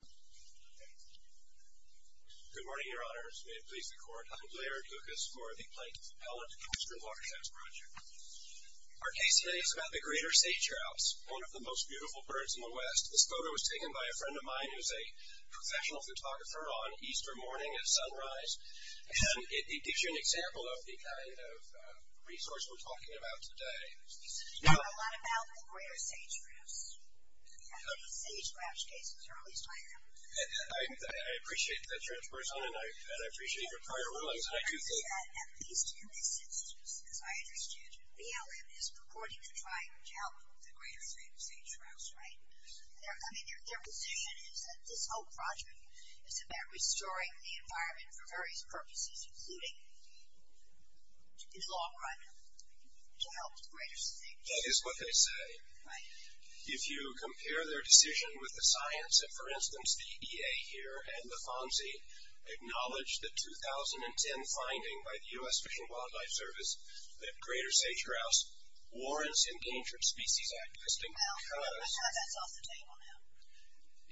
Good morning, Your Honors. May it please the Court, I'm Blair Dukas for the Plankton-Pellet Western Watersheds Project. Our case today is about the greater sage-grouse, one of the most beautiful birds in the West. This photo was taken by a friend of mine who's a professional photographer on Easter morning at sunrise, and it gives you an example of the kind of resource we're talking about today. We know a lot about the greater sage-grouse, and these sage-grouse cases are at least one of them. I appreciate that transparency, and I appreciate your prior rulings, and I do think that at least in this instance, as I understood, BLM is purporting to try and help with the greater sage-grouse, right? I mean, their position is that this whole project is about restoring the environment for various purposes, including, in the long run, to help the greater sage-grouse. That is what they say. If you compare their decision with the science that, for instance, the EA here and the FONSI acknowledged the 2010 finding by the U.S. Fish and Wildlife Service that greater sage-grouse warrants Endangered Species Act testing, because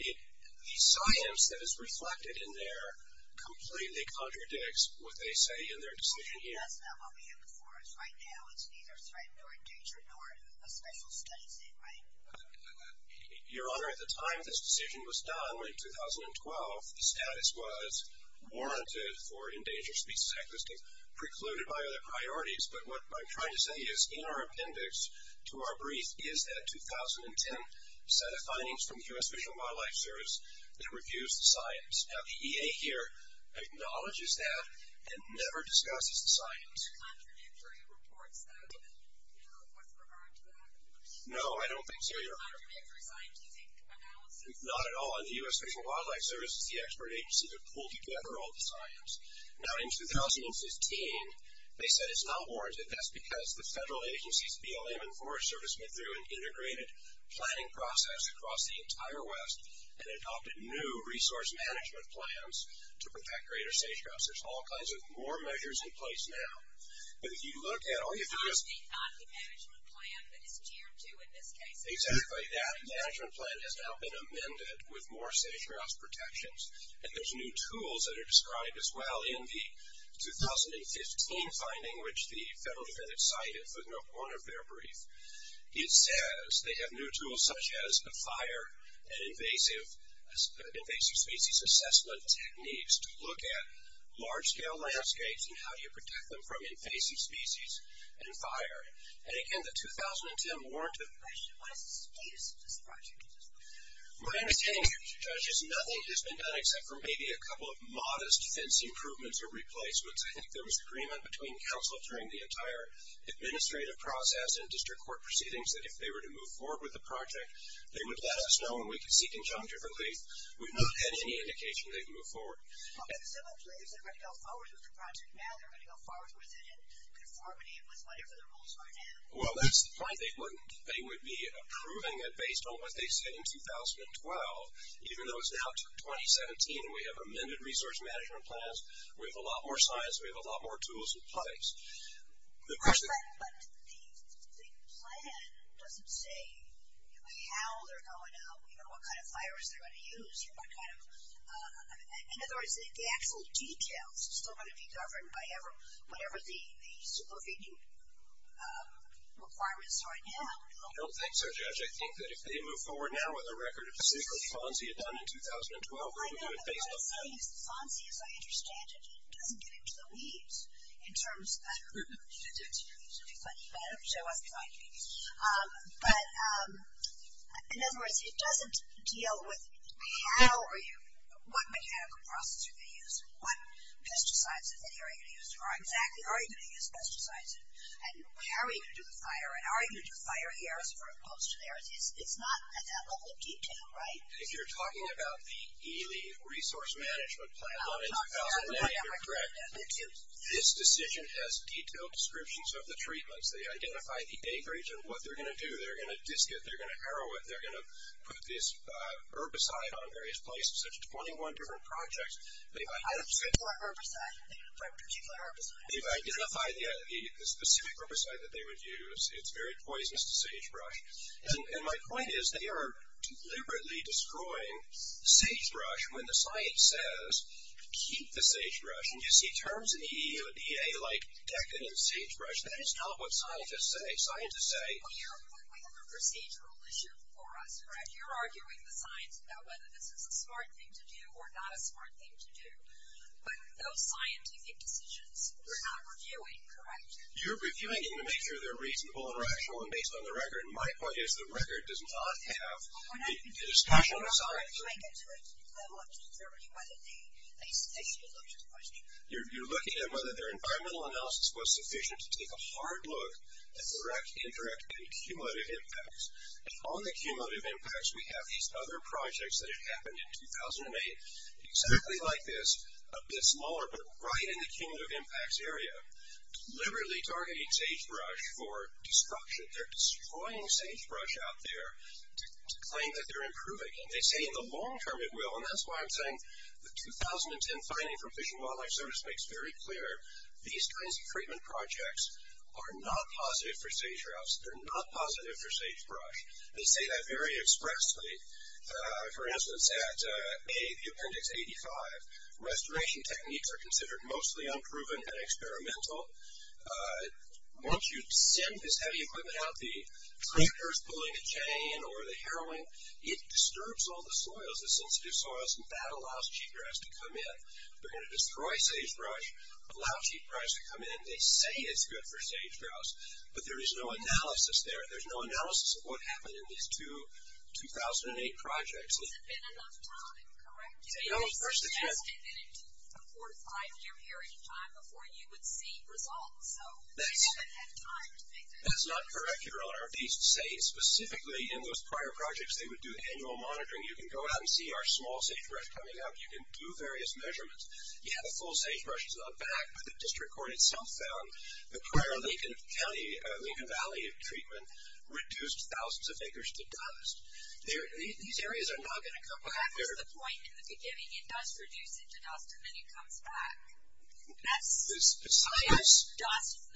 the science that is reflected in there completely contradicts what they say in their decision here. That's not what we have before us right now. It's neither threatened nor endangered, nor a special study set, right? Your Honor, at the time this decision was done, in 2012, the status was warranted for Endangered Species Act testing, precluded by other priorities, but what I'm trying to say is, in our appendix to our brief, is that 2010 set of findings from the U.S. Fish and Wildlife Service that refused the science. Now, the EA here acknowledges that and never discusses science. Do you think there are contradictory reports that have been made with regard to that? No, I don't think so, Your Honor. Contradictory scientific analysis? Not at all. In the U.S. Fish and Wildlife Service, the expert agencies have pulled together all the science. Now, in 2015, they said it's not warranted. That's because the federal agencies, BLM and Forest Service, went through an integrated planning process across the entire West and adopted new resource management plans to protect greater sage-grouse. There's all kinds of more measures in place now, but if you look at all you do is... It's actually not the management plan, but it's tier two in this case. Exactly. That management plan has now been amended with more sage-grouse protections, and there's new tools that are described as well in the 2015 finding, which the federal defense cited for one of their briefs. It says they have new tools such as a fire and large-scale landscapes, and how do you protect them from invasive species and fire? And again, the 2010 warranted... Question. What is the status of this project? My understanding, Judge, is nothing has been done except for maybe a couple of modest fence improvements or replacements. I think there was agreement between counsel during the entire administrative process and district court proceedings that if they were to move forward with the project, they would let us know and we could seek injunctive relief. We've not had any indication they've moved forward. Well, but similarly, if they're going to go forward with the project now, they're going to go forward with it in conformity with whatever the rules are now. Well, that's the point. They would be approving it based on what they said in 2012, even though it's now 2017 and we have amended resource management plans, we have a lot more science, we have a lot more tools in place. But the plan doesn't say how they're going to, you know, what kind of fires they're going to use, what kind of, in other words, the actual details still going to be governed by whatever the supervision requirements are now. I don't think so, Judge. I think that if they move forward now with a record of secrecy, as Fonzie had done in 2012, they're going to do it based on that. Fonzie, as I understand it, he doesn't get into the weeds in terms of, I don't know, he doesn't show us behind the scenes, but, in other words, it doesn't deal with how are you, what mechanical process are they going to use, what pesticides are they going to use, or exactly are you going to use pesticides, and how are you going to do the fire, and are you going to do fire here as opposed to there. It's not at that level of detail, right? If you're talking about the ELE resource management plan in 2009, you're correct. This decision has detailed descriptions of the treatments. They identify the acreage and what they're going to do. They're going to disc it. They're going to harrow it. They're going to put this herbicide on various places. There's 21 different projects. They've identified the specific herbicide that they would use. It's very poisonous to sagebrush. And my point is they are deliberately destroying sagebrush when the science says keep the sagebrush. And you see terms in the EEODA like decadent sagebrush. That is not what scientists say. Scientists say... We have a procedural issue for us, correct? You're arguing the science about whether this is a smart thing to do or not a smart thing to do, but those scientific decisions, we're not reviewing, correct? You're reviewing them to make sure they're reasonable and rational and based on the record. My point is the record does not have a discussion with scientists. You're looking at whether their environmental analysis was sufficient to take a hard look at direct, indirect, and cumulative impacts. And on the cumulative impacts, we have these other projects that have happened in 2008 exactly like this, a bit smaller, but right in the cumulative impacts area, deliberately targeting sagebrush for destruction. They're destroying sagebrush out there to claim that they're improving. They say in the long term it will. And that's why I'm saying the 2010 finding from Fish and Wildlife Service makes very clear these kinds of treatment projects are not positive for sage grouse. They're not positive for sagebrush. They say that very expressly. For instance, at A, the Appendix 85, restoration techniques are considered mostly unproven and experimental. Once you send this heavy equipment out, the tractors pulling a chain or the harrowing, it disturbs all the soils, the sensitive soils, and that allows cheatgrass to come in. They're going to destroy sagebrush, allow cheatgrass to come in. They say it's good for sagegrouse, but there is no analysis there. There's no analysis of what happened in these two 2008 projects. It hasn't been enough time, correct? No, of course it hasn't. They suggested that it took a quarter, five year period of time before you would see results. So they didn't have time to make that decision. That's not correct, Your Honor. These sage, specifically in those prior projects, they would do annual monitoring. You can go out and see our small sagebrush coming out. You can do various measurements. You have a full sagebrush, it's not back, but the district court itself found the prior Lincoln County, Lincoln Valley treatment reduced thousands of acres to dust. These areas are not going to come back. That was the point in the beginning. It does reduce into dust, and then it comes back. That's not what the district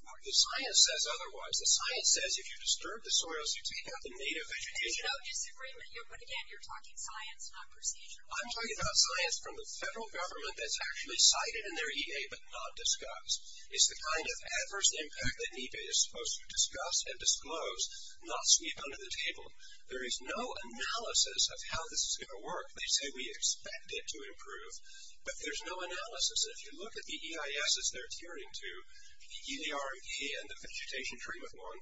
court said. The science says otherwise. The science says if you disturb the soils, you take out the native vegetation. There's no disagreement, but again, you're talking science, not procedure. I'm talking about science from the federal government that's actually cited in their EA, but not discussed. It's the kind of adverse impact that EPA is supposed to discuss and disclose, not sweep under the table. There is no analysis of how this is going to work. They say we expect it to improve, but there's no analysis. If you look at the EISs they're tiering to, the EER and the vegetation treatment one,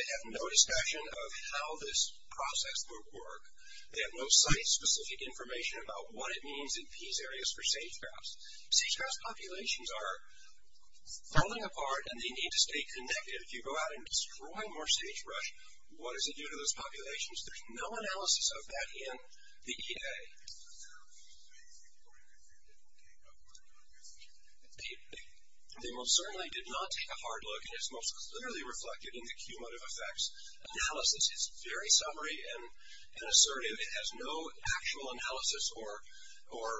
they have no discussion of how this process would work. They have no site-specific information about what it means in these areas for sagebrush. Sagebrush populations are falling apart, and they need to stay connected. If you go out and destroy more sagebrush, what does it do to those populations? There's no analysis of that in the EA. They most certainly did not take a hard look, and it's most clearly reflected in the cumulative effects analysis. It's very summary and assertive. It has no actual analysis or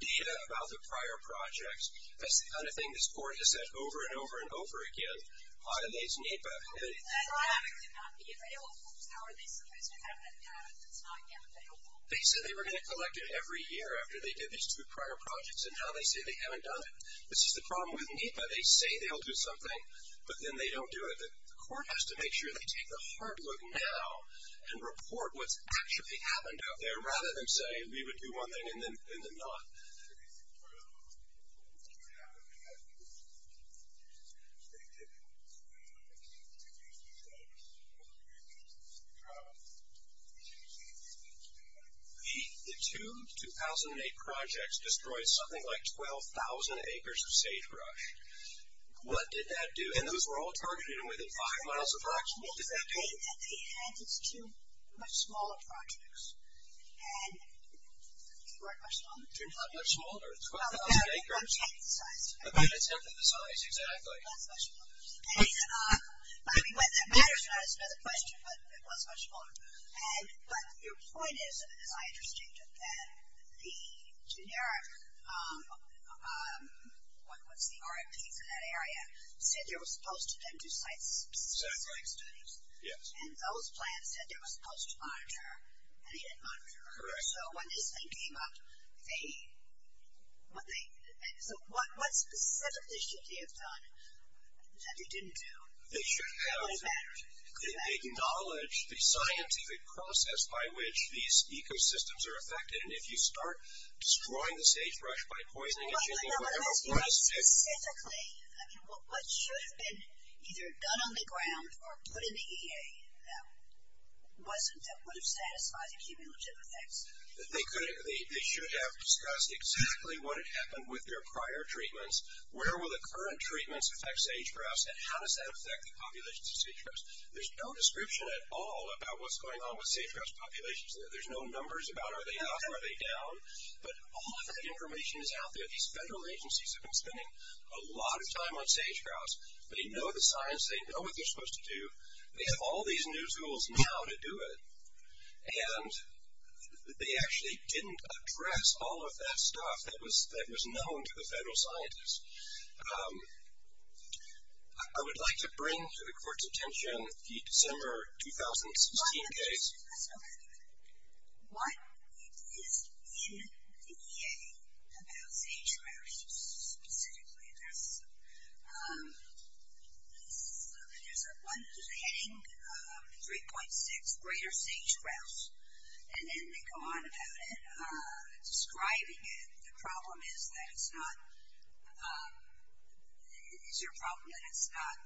data about the prior projects. That's the kind of thing this board has said over and over and over again. Why are they so neat about it? They said they were going to collect it every year after they did these two prior projects, and now they say they haven't done it. This is the problem with NEPA. They say they'll do something, but then they don't do it. The court has to make sure they take a hard look now and report what's actually happened out there, rather than say we would do one thing and then not. The two 2008 projects destroyed something like 12,000 acres of sagebrush. What did that do? And those were all targeted within five miles of Rocksville. It's okay that they had these two much smaller projects, and they weren't much longer. They're not much smaller. 12,000 acres. Well, that's the size. That's definitely the size, exactly. That's much smaller. I mean, whether that matters or not is another question, but it was much smaller. But your point is, and it's not interesting, that the generic, what's the RFP for that area, said there was supposed to have been two sites. Exactly. And those plants said there was supposed to monitor, and they didn't monitor. Correct. So, when this thing came up, they, so what specifically should they have done that they didn't do? They should have acknowledged the scientific process by which these ecosystems are affected, and if you start destroying the sagebrush by poisoning it, you think, well, what is this? So, statistically, I mean, what should have been either done on the ground or put in the EA that would have satisfied the cumulative effects? They should have discussed exactly what had happened with their prior treatments. Where will the current treatments affect sagebrush, and how does that affect the populations of sagebrush? There's no description at all about what's going on with sagebrush populations. There's no numbers about, are they up, are they down? But all of that information is out there. These federal agencies have been spending a lot of time on sagebrush. They know the science. They know what they're supposed to do. They have all these new tools now to do it, and they actually didn't address all of that stuff that was known to the federal scientists. I would like to bring to the court's attention the December 2016 case. So, one, it is in the EA about sagebrush, specifically, and there's a heading 3.6, Greater Sagebrush, and then they go on about it, describing it. The problem is that it's not, is your problem that it's not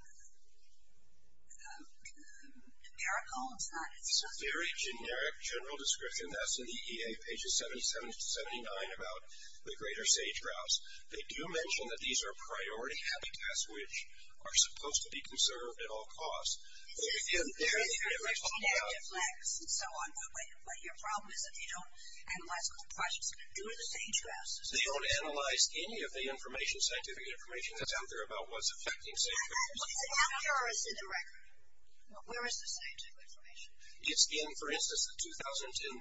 numerical? It's a very generic general description that's in the EA, pages 77 to 79, about the greater sage-grouse. They do mention that these are priority habitats, which are supposed to be conserved at all costs. There is a generic flex, and so on, but your problem is that they don't analyze the whole process. Do the sage-grouses. They don't analyze any of the information, scientific information, that's out there about what's affecting sagebrush. What's the accuracy of the record? Where is the scientific information? It's in, for instance, the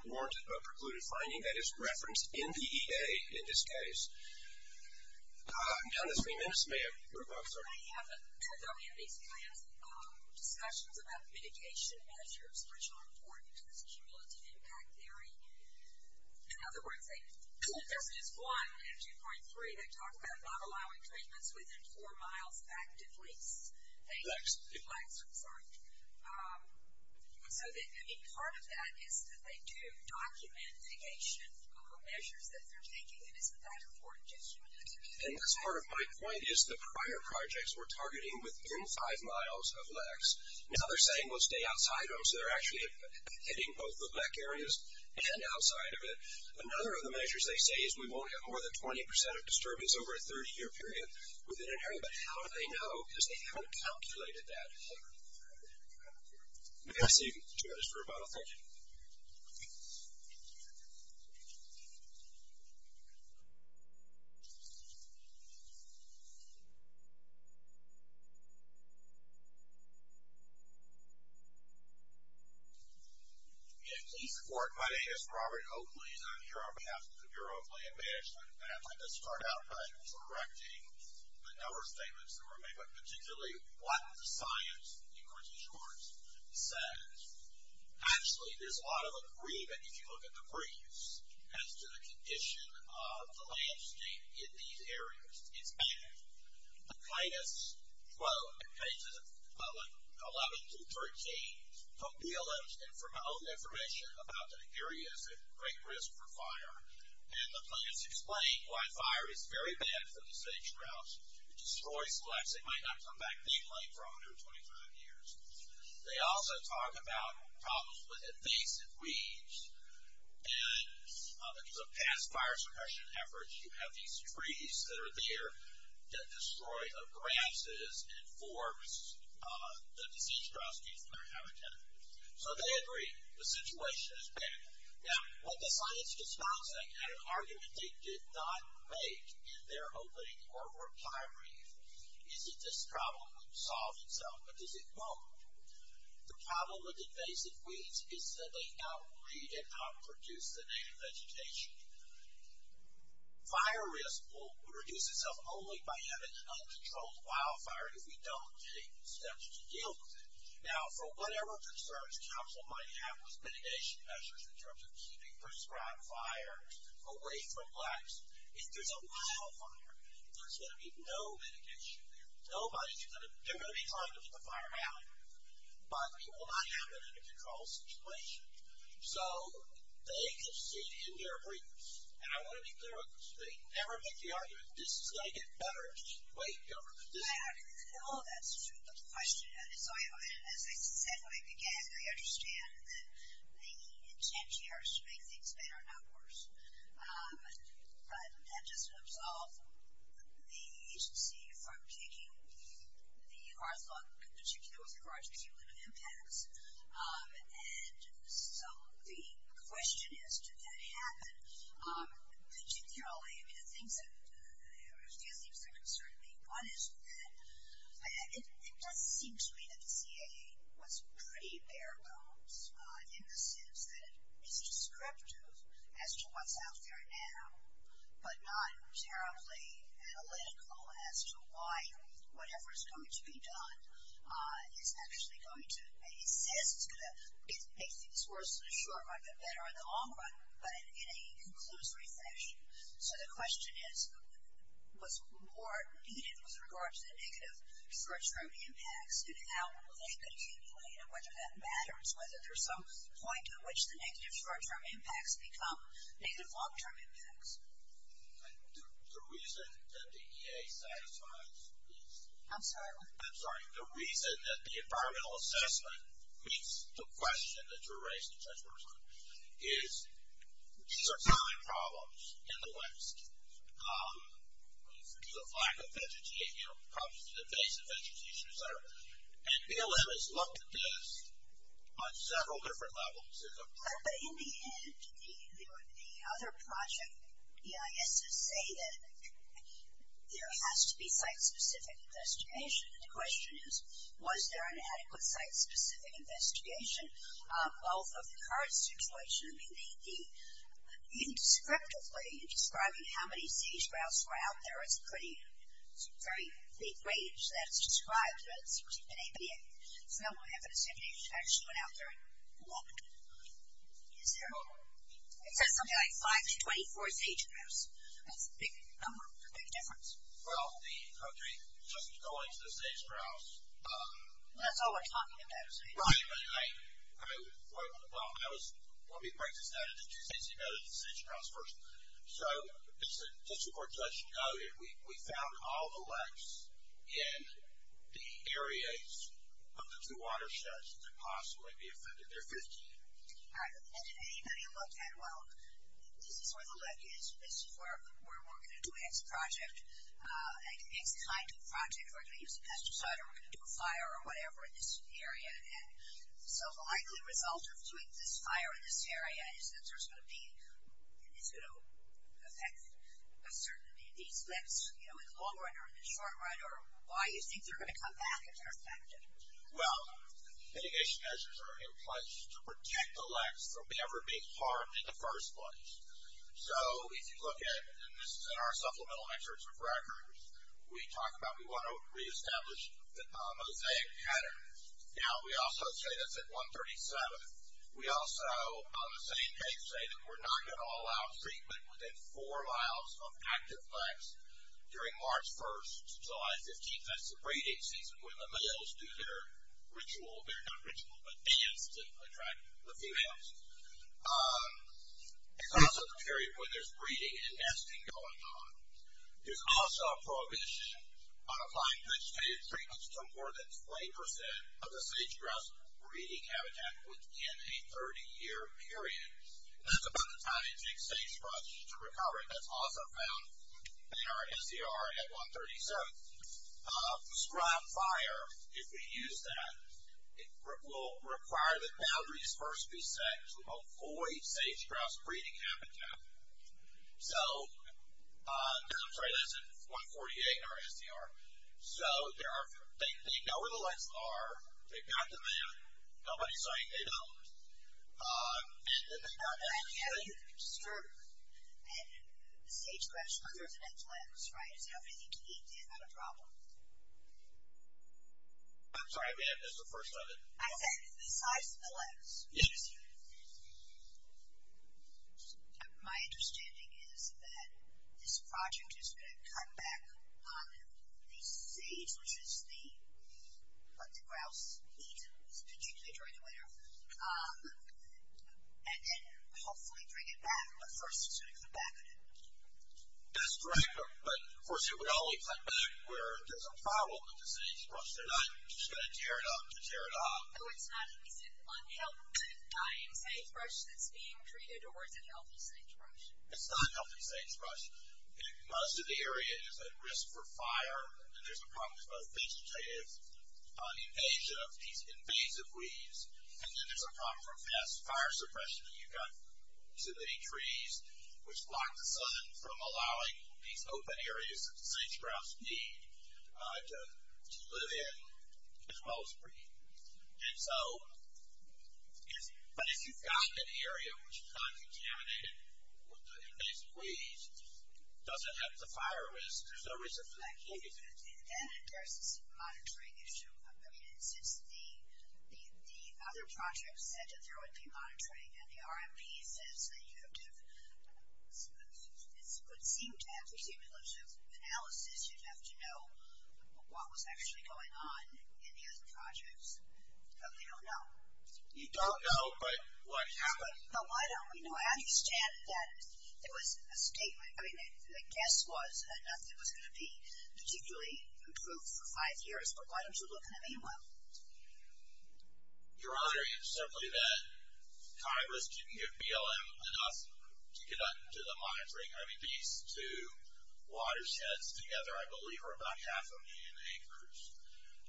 2010 warranted precluded finding that is referenced in the EA in this case. I'm down to three minutes, ma'am. Sorry. I have a couple of these plans, discussions about mitigation measures, which are important to this cumulative impact theory. In other words, they, if there's just one, and 2.3, they talk about not allowing treatments within four miles back to fleece. Lex. Lex, I'm sorry. So, I mean, part of that is that they do document mitigation measures that they're taking, and isn't that important to this cumulative impact theory? And that's part of my point, is the prior projects were targeting within five miles of Lex. Now, they're saying, well, stay outside of them. So, they're actually hitting both the black areas and outside of it. Another of the measures they say is we won't get more than 20 percent of disturbance over a 30-year period. Within an area, but how do they know? Because they haven't calculated that yet. I'm going to pass it to you, Mr. Roboto. Thank you. Please support my name is Robert Oakley, and I'm here on behalf of the Bureau of Land Management, and I'd like to start out by correcting the number of statements that were made, but particularly what the science, in quickly short, says. Actually, there's a lot of agreement, if you look at the briefs, as to the condition of the landscape in these areas. It's bad. The plan is, quote, in pages 11 through 13, from BLM, and from my own information, about the plan, it's explained why fire is very bad for the sage-grouse. It destroys flecks. It might not come back big-legged for 125 years. They also talk about problems with invasive weeds, and because of past fire suppression efforts, you have these trees that are there that destroy the grasses and forbs the sage-grouse that came from their habitat. So, they agree. The situation is bad. Now, what the science does not say, and an argument they did not make in their opening or reply brief, is that this problem will solve itself, but does it won't? The problem with invasive weeds is that they out-breed and out-produce the native vegetation. Fire risk will reduce itself only by having an uncontrolled wildfire if we don't take steps to deal with it. Now, for whatever concerns Council might have with mitigation measures in terms of keeping prescribed fires away from flecks, if there's a wildfire, there's going to be no mitigation there. Nobody's going to—they're going to be trying to put the fire out, but it will not happen in a controlled situation. So, they concede in their briefs, and I want to be clear on this. They never make the argument, this is going to get better. Wait, Governor, this— No, that's true, but the question—as I said when I began, we understand that the intent here is to make things better, not worse. But that doesn't absolve the agency from taking the hard look, particularly with regard to cumulative impacts. And so, the question is, did that happen? Particularly, I mean, the things that—a few things that concern me. One is that it does seem to me that the CAA was pretty bare bones in the sense that it is descriptive as to what's out there now, but not terribly analytical as to why whatever is going to be done is actually going to—it says it's going to make things worse in the short run, but better in the long run, but in a conclusory fashion. So, the question is, was more needed with regard to the negative short-term impacts and how they could accumulate and whether that matters, whether there's some point at which the negative short-term impacts become negative long-term impacts. And the reason that the EA satisfies is— I'm sorry, what? I'm sorry. In the end, the other project EISs say that there has to be site-specific investigation. The question is, was there an adequate site-specific investigation? Well, for the current situation, I mean, the—descriptively, describing how many sage grouse were out there is a pretty—it's a very big range that it's described, but it's an ABA. So, now we have an assemblage that actually went out there and looked. Is there— Oh. It says something like 5 to 24 sage grouse. That's a big number, a big difference. Well, the—okay, just going to the sage grouse— Well, that's all we're talking about is sage grouse. Right. I mean, that was—let me break this down into two things. You noted the sage grouse first. So, just before Judge noted, we found all the leks in the areas of the two watersheds that could possibly be offended. There are 15. All right. And did anybody look at, well, this is where the lek is. This is where we're going to do an exit project, an exit site to a project. We're going to use a pesticide or we're going to do a fire or whatever in this area. So, the likely result of doing this fire in this area is that there's going to be—it's going to affect a certain amount of these leks, you know, in the long run or in the short run, or why you think they're going to come back if they're affected. Well, mitigation measures are in place to protect the leks from ever being harmed in the first place. So, if you look at—and this is in our supplemental excerpts of records—we talk about we want to reestablish the mosaic pattern. Now, we also say that's at 137. We also, on the same page, say that we're not going to allow treatment within four miles of active leks during March 1st to July 15th. That's the breeding season when the males do their ritual—their not ritual, but dance to attract the females. It's also the period when there's breeding and nesting going on. There's also a prohibition on applying vegetative treatments to more than 20 percent of the sage-grouse breeding habitat within a 30-year period. That's about the time it takes sage-grouses to recover. That's also found in our SCR at 137. Scrap fire, if we use that, will require that boundaries first be set to avoid sage-grouse breeding habitat. So, I'm sorry, that's at 148 in our SCR. So, they know where the leks are, they've got them in, nobody's saying they don't. And then they've got— I'm glad you haven't used the term sage-grouse because there's an X-Lex, right? It's everything you need to get them out of trouble. I'm sorry, ma'am, that's the first of it. I said the size of the leks. Yes. My understanding is that this project is going to cut back on the sage, which is what the grouse eat, particularly during the winter, and then hopefully bring it back. But first, it's going to cut back on it. That's correct. But, of course, it would only cut back where there's a problem with the sage-grouse. They're not just going to tear it up to tear it off. So, it's not at least an unhealthy dying sagebrush that's being treated, or it's a healthy sagebrush? It's not a healthy sagebrush. Most of the area is at risk for fire, and there's a problem with both vegetative invasion of these invasive weeds, and then there's a problem from past fire suppression that you've got too many trees, which block the sun from allowing these open areas that the sage-grouse need to live in as well as breathe. And so, but if you've got an area which is non-contaminated with invasive weeds, does it have the fire risk? There's no reason for that. And then there's this monitoring issue. I mean, since the other project said that there would be monitoring, and the RMP says that you have to, it would seem to have the cumulative analysis, you'd have to know what was actually going on in the other projects, but we don't know. You don't know, but what happened? But why don't we know? I understand that there was a statement, I mean, the guess was enough that it was going to be particularly improved for five years, but why don't you look in the meanwhile? You're arguing simply that Congress didn't give BLM enough to get into the monitoring. I mean, these two watersheds together, I believe, are about half a million acres,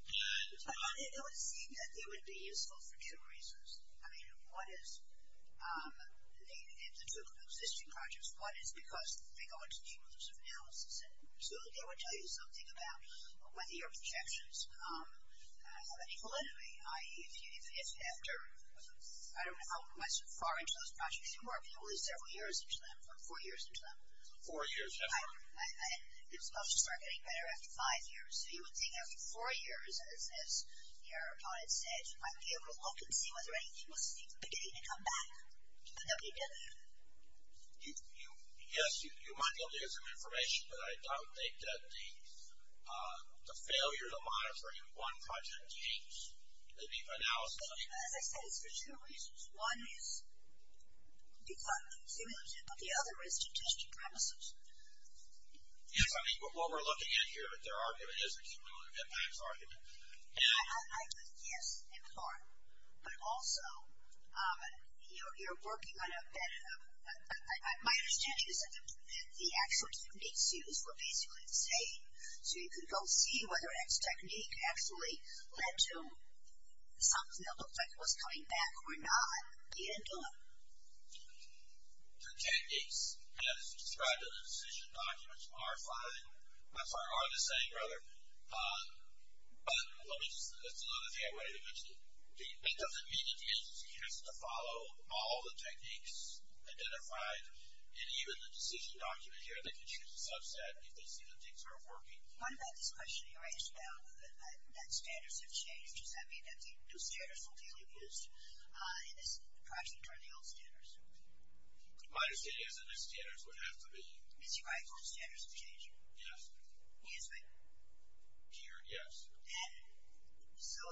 and- It would seem that they would be useful for two reasons. I mean, one is, in the two existing projects, one is because they go into cumulative analysis, and two, they would tell you something about whether your projections have an equal enemy, i.e. if after, I don't know how far into those projects you are, but it would be several years into them, or four years into them. Four years, yes. Right, and it was supposed to start getting better after five years, so you would think after four years, as your opponent said, you might be able to look and see whether anything was beginning to come back to the WW. Yes, you might be able to get some information, but I don't think that the failure to monitor in one project changed the analysis of the other. As I said, it's for two reasons. One is because the cumulative, but the other is to test your premises. Yes, I mean, what we're looking at here with their argument is a cumulative impacts argument. Yes, in part, but also, you're working on a bit of, my understanding is that the actual techniques used were basically the same, so you could go see whether an X technique actually led to something that looked like it was coming back or not. You didn't do it. The techniques as described in the decision documents are fine, I'm sorry, are the same, rather, but let me just, that's another thing I wanted to mention. It doesn't mean that the agency has to follow all the techniques identified, and even the decision document here, they can choose a subset if they see that things aren't working. What about this question you asked about that standards have changed? Does that mean that new standards will be reused in this project under the old standards? My understanding is that new standards would have to be. Mr. Greif, old standards have changed? Yes. He has been? Peered, yes. And so,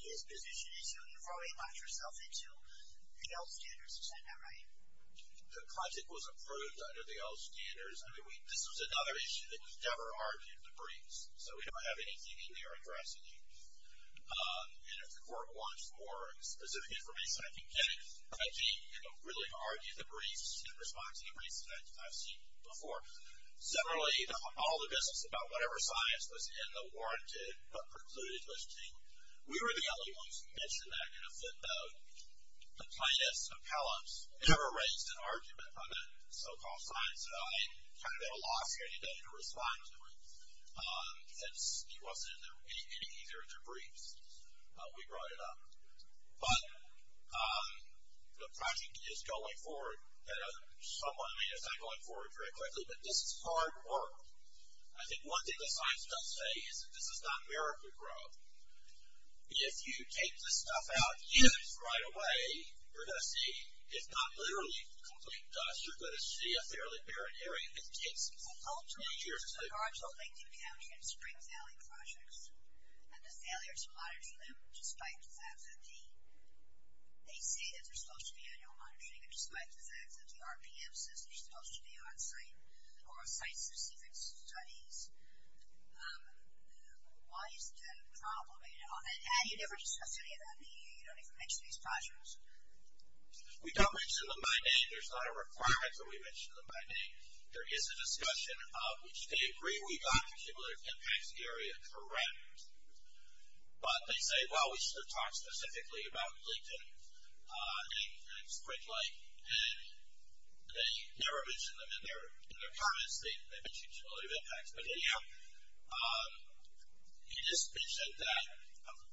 his position is you've already locked yourself into the old standards, is that not right? The project was approved under the old standards. I mean, this was another issue that was never argued in the briefs, so we don't have anything in there addressing it. And if the court wants more specific information, I can get it. I can't, you know, really argue the briefs in response to the briefs that I've seen before. Similarly, all the business about whatever science was in the warranted but precluded listing, we were the only ones who mentioned that in a flip note. The plaintiff's appellate never raised an argument on that so-called science. So, I kind of had a loss here today to respond to it, since he wasn't in any either of the briefs we brought it up. But the project is going forward at a somewhat, I mean, it's not going forward very quickly, but this is hard work. I think one thing the science does say is that this is not miracle growth. If you take this stuff out and use it right away, you're going to see it's not literally complete dust. You're going to see a fairly barren area that takes many years to- I'm talking about the Lincoln County and Spring Valley projects and the failure to monitor them, despite the fact that they say that they're supposed to be annual monitoring and despite the fact that the RPM says they're supposed to be on-site or site-specific studies. Why is that a problem? And you never discuss any of that, meaning you don't even mention these projects? We don't mention them by name. There's not a requirement that we mention them by name. There is a discussion of which they agree we got the cumulative impacts area correct. But they say, well, we should have talked specifically about Lincoln and Spring Lake. And they never mention them in their comments. They mention cumulative impacts. But anyhow, you just mentioned that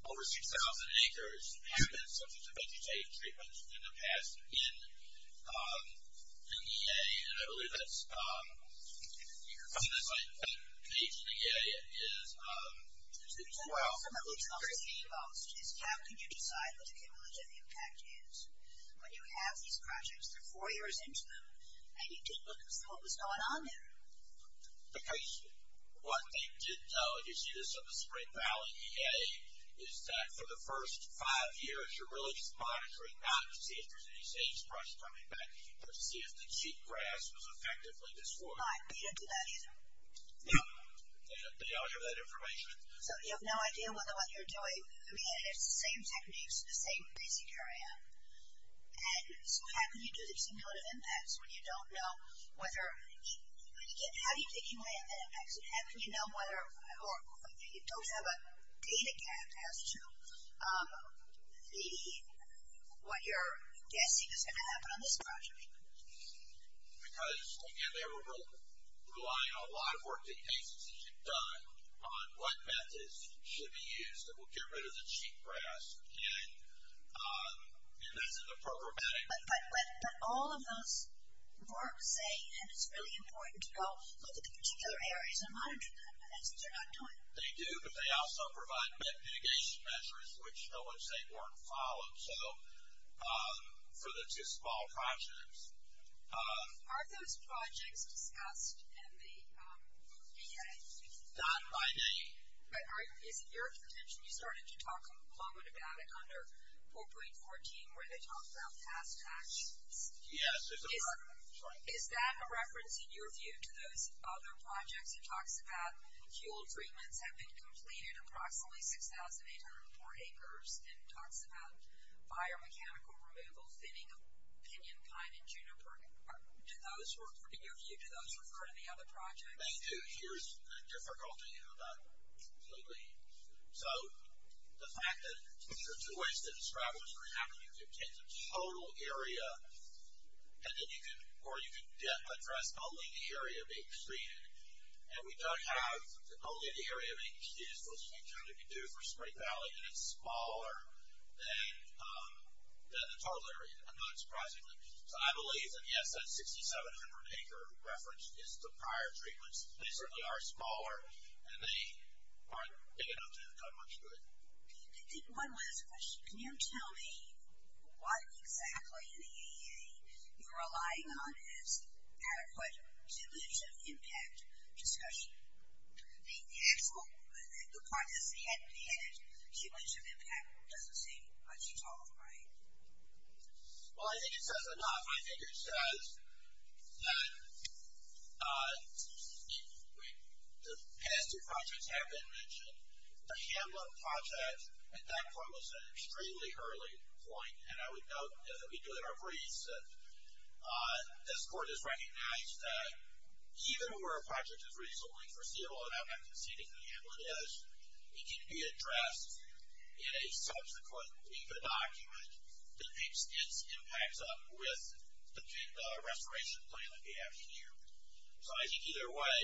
over 6,000 acres have been subject to vegetation treatments in the past in the EA. And I believe that's- In the EA. So that's like, the age in the EA is- So the question that we're talking about is how can you decide what the cumulative impact is when you have these projects that are four years into them, and you didn't look at what was going on there? Because what they did know, and you see this on the Spring Valley EA, is that for the first five years, you're really just monitoring not to see if there's any sagebrush coming back, but to see if the cheatgrass was effectively destroyed. But you don't do that either? No, they don't have that information. So you have no idea whether what you're doing, I mean, it's the same techniques, the same basic area. And so how can you do the cumulative impacts when you don't know whether- How do you get cumulative impacts? And how can you know whether, or you don't have a data gap as to what you're guessing is going to happen on this project? Because, again, they were relying on a lot of work that you've done on what methods should be used that will get rid of the cheatgrass, and that's in the programmatic- But all of those work say, and it's really important to go look at the particular areas and monitor them, but that's what you're not doing. They do, but they also provide mitigation measures, which I would say weren't followed for the two small projects. Are those projects discussed in the EA? Not by me. But is it your contention, you started to talk a moment about it under 4.14, where they talked about past actions? Yes. Is that a reference, in your view, to those other projects? It talks about fuel treatments have been completed approximately 6,804 acres, and it talks about biomechanical removal, thinning of pinion pine and juniper. In your view, do those refer to the other projects? They do. Here's the difficulty about completely- So, the fact that there are two ways to describe what's going to happen. You can take the total area, or you can address only the area being treated, and we don't have- Only the area being treated is what Sweet County can do for Spring Valley, and it's smaller than the total area, not surprisingly. So, I believe, and yes, that 6,700 acre reference is the prior treatments. They certainly are smaller, and they aren't big enough to have done much good. I think one last question. Can you tell me what exactly in the EA you're relying on is adequate cumulative impact discussion? The actual, the part that's head-to-head, cumulative impact doesn't seem much at all right. Well, I think it says enough. I think it says that the past two projects have been mentioned. The Hamlin project, at that point, was an extremely early point, and I would note that we do it in our briefs. This court has recognized that even where a project is reasonably foreseeable, and I'm I think either way,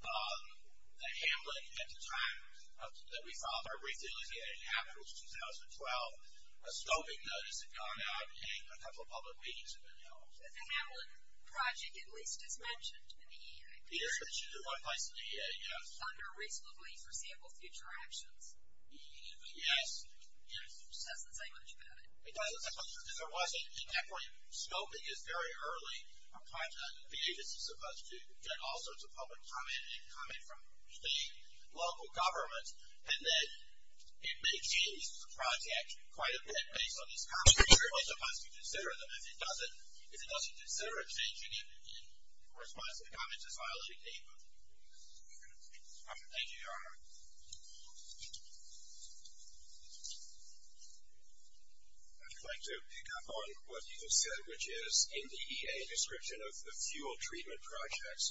the Hamlin, at the time that we filed our brief, it was 2012, a scoping notice had gone out, and a couple of public meetings have been held. But the Hamlin project, at least, is mentioned in the EA. It is mentioned in one place in the EA, yes. Under reasonably foreseeable future actions. Yes. It just doesn't say much about it. It doesn't say much, because there wasn't, at that point, scoping is very early. The agency is supposed to get all sorts of public comment, and comment from the local government, and then it may change the project quite a bit based on these comments. You're very much supposed to consider them. If it doesn't, if it doesn't consider it, changing it in response to the comments is violating the agreement. Thank you, Your Honor. I'd like to pick up on what you just said, which is in the EA description of the fuel treatment projects.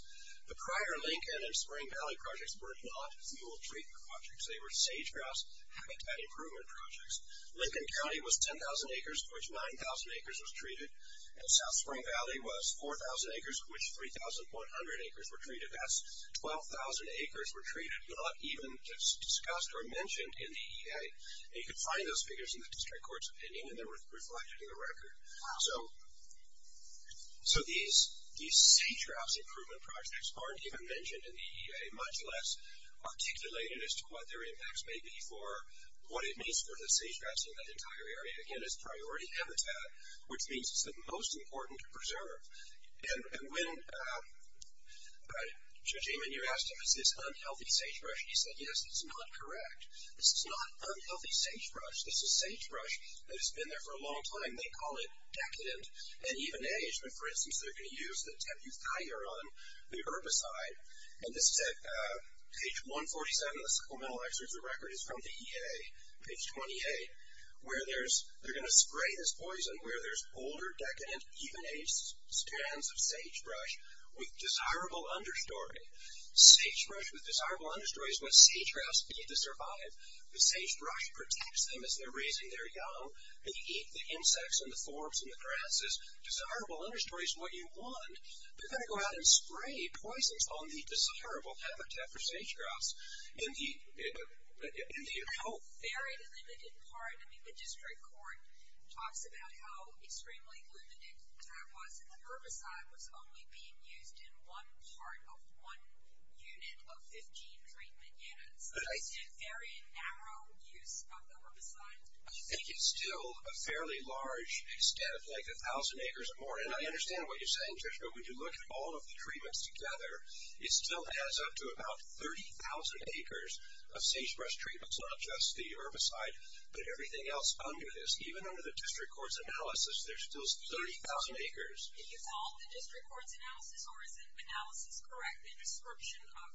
The prior Lincoln and Spring Valley projects were not fuel treatment projects. They were sage-grouse habitat improvement projects. Lincoln County was 10,000 acres, of which 9,000 acres was treated. And South Spring Valley was 4,000 acres, of which 3,100 acres were treated. 12,000 acres were treated, but not even discussed or mentioned in the EA. You can find those figures in the district court's opinion, and they're reflected in the record. So these sage-grouse improvement projects aren't even mentioned in the EA, much less articulated as to what their impacts may be for what it means for the sage-grouse in that entire area. Again, it's priority habitat, which means it's the most important to preserve. And when Shajiman, you asked him, is this unhealthy sagebrush? He said, yes, it's not correct. This is not unhealthy sagebrush. This is sagebrush that has been there for a long time. They call it decadent and even-aged. But for instance, they're going to use the tapu thaiuron, the herbicide. And this is at page 147 of the supplemental excerpts of the record. It's from the EA, page 28, where they're going to spray this poison where there's older, decadent, even-aged strands of sagebrush with desirable understory. Sagebrush with desirable understory is what sage-grouse need to survive. The sagebrush protects them as they're raising their young. They eat the insects and the forbs and the grasses. Desirable understory is what you want. They're going to go out and spray poisons on the desirable habitat for sage-grouse in the hope. Very limited part. I mean, the district court talks about how extremely limited that was. And the herbicide was only being used in one part of one unit of 15 treatment units. So it's a very narrow use of the herbicide. I think it's still a fairly large, instead of like 1,000 acres or more. And I understand what you're saying, Trish. But when you look at all of the treatments together, it still adds up to about 30,000 acres of sagebrush treatments. Not just the herbicide, but everything else under this. Even under the district court's analysis, there's still 30,000 acres. Did you follow the district court's analysis? Or is the analysis correct? The description of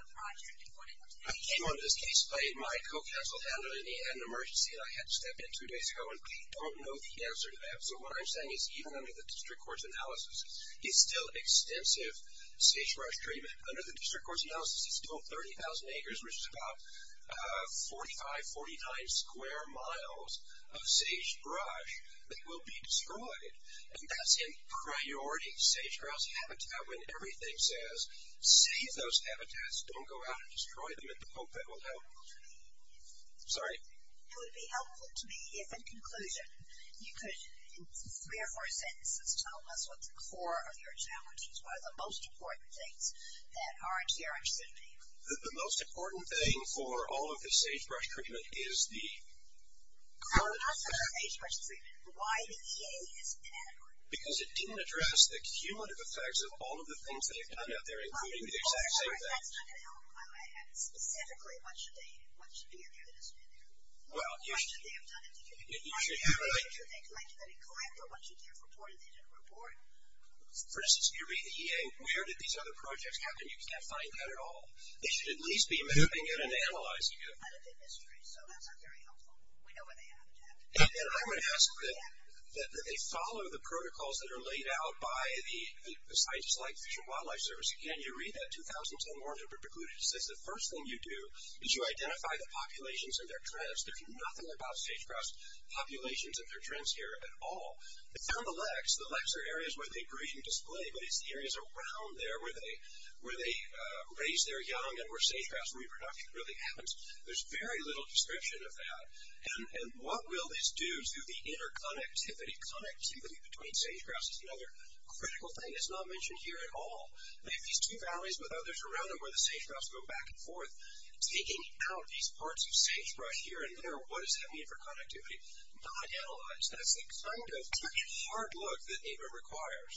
the project and what it contained? In this case, my co-counsel had an emergency and I had to step in two days ago. And I don't know the answer to that. So what I'm saying is even under the district court's analysis, there's still extensive sagebrush treatment. Under the district court's analysis, there's still 30,000 acres, which is about 45, 49 square miles of sagebrush that will be destroyed. And that's in priority. Sagebrush habitat, when everything says save those habitats, don't go out and destroy them in the hope that will help. Sorry? It would be helpful to me if, in conclusion, you could, in three or four sentences, tell us what the core of your challenge is. What are the most important things that are in CRM 17? The most important thing for all of the sagebrush treatment is the- Now, what's the sagebrush treatment? Why the EA is inadequate? Because it didn't address the cumulative effects of all of the things that they've done out there, including the exact same thing. Well, I'm sorry, that's not going to help. I mean, specifically, what should be in there that isn't in there? Well, you should- What should they have done in the community? What should they have collected that didn't collect? Or what should they have reported that didn't report? For instance, if you read the EA, where did these other projects happen? You can't find that at all. They should at least be moving in and analyzing it. But it's a mystery, so that's not very helpful. We know where they have it at. And I would ask that they follow the protocols that are laid out by the scientists like the Fish and Wildlife Service. Again, you read that 2010 margin of preclusion, it says the first thing you do is you identify the populations and their trends. There's nothing about sagebrush populations and their trends here at all. They found the leks. The leks are areas where they breed and display, but it's the areas around there where they raise their young and where sage-grouse reproduction really happens. There's very little description of that. And what will this do to the interconnectivity? Connectivity between sage-grouse is another critical thing. It's not mentioned here at all. They have these two valleys with others around them where the sage-grouse go back and forth, taking out these parts of sagebrush here and there. What does that mean for connectivity? Not analyzed. That's the kind of tricky hard look that NEPA requires.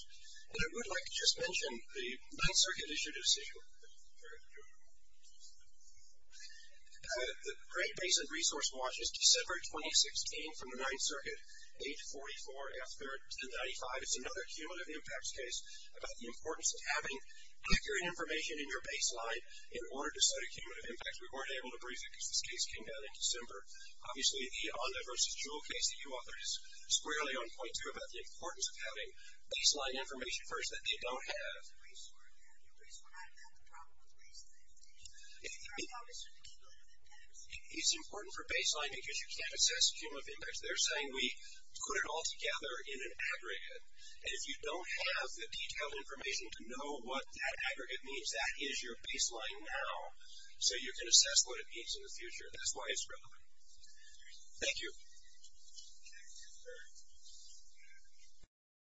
And I would like to just mention the Ninth Circuit issue decision. The Great Basin Resource Watch is December 2016 from the Ninth Circuit, 8-44-1095. It's another cumulative impacts case about the importance of having accurate information in your baseline in order to study cumulative impacts. We weren't able to brief it because this case came down in December. Obviously, the On the Versus Jewel case that you authored is squarely on point, too, about the importance of having baseline information first that they don't have. If the briefs were there, the briefs would not have had the problem of baseline information. They would have understood the cumulative impacts. It's important for baseline because you can't assess cumulative impacts. They're saying we put it all together in an aggregate. And if you don't have the detailed information to know what that aggregate means, that is your baseline now. So you can assess what it means in the future. That's why it's relevant. Thank you.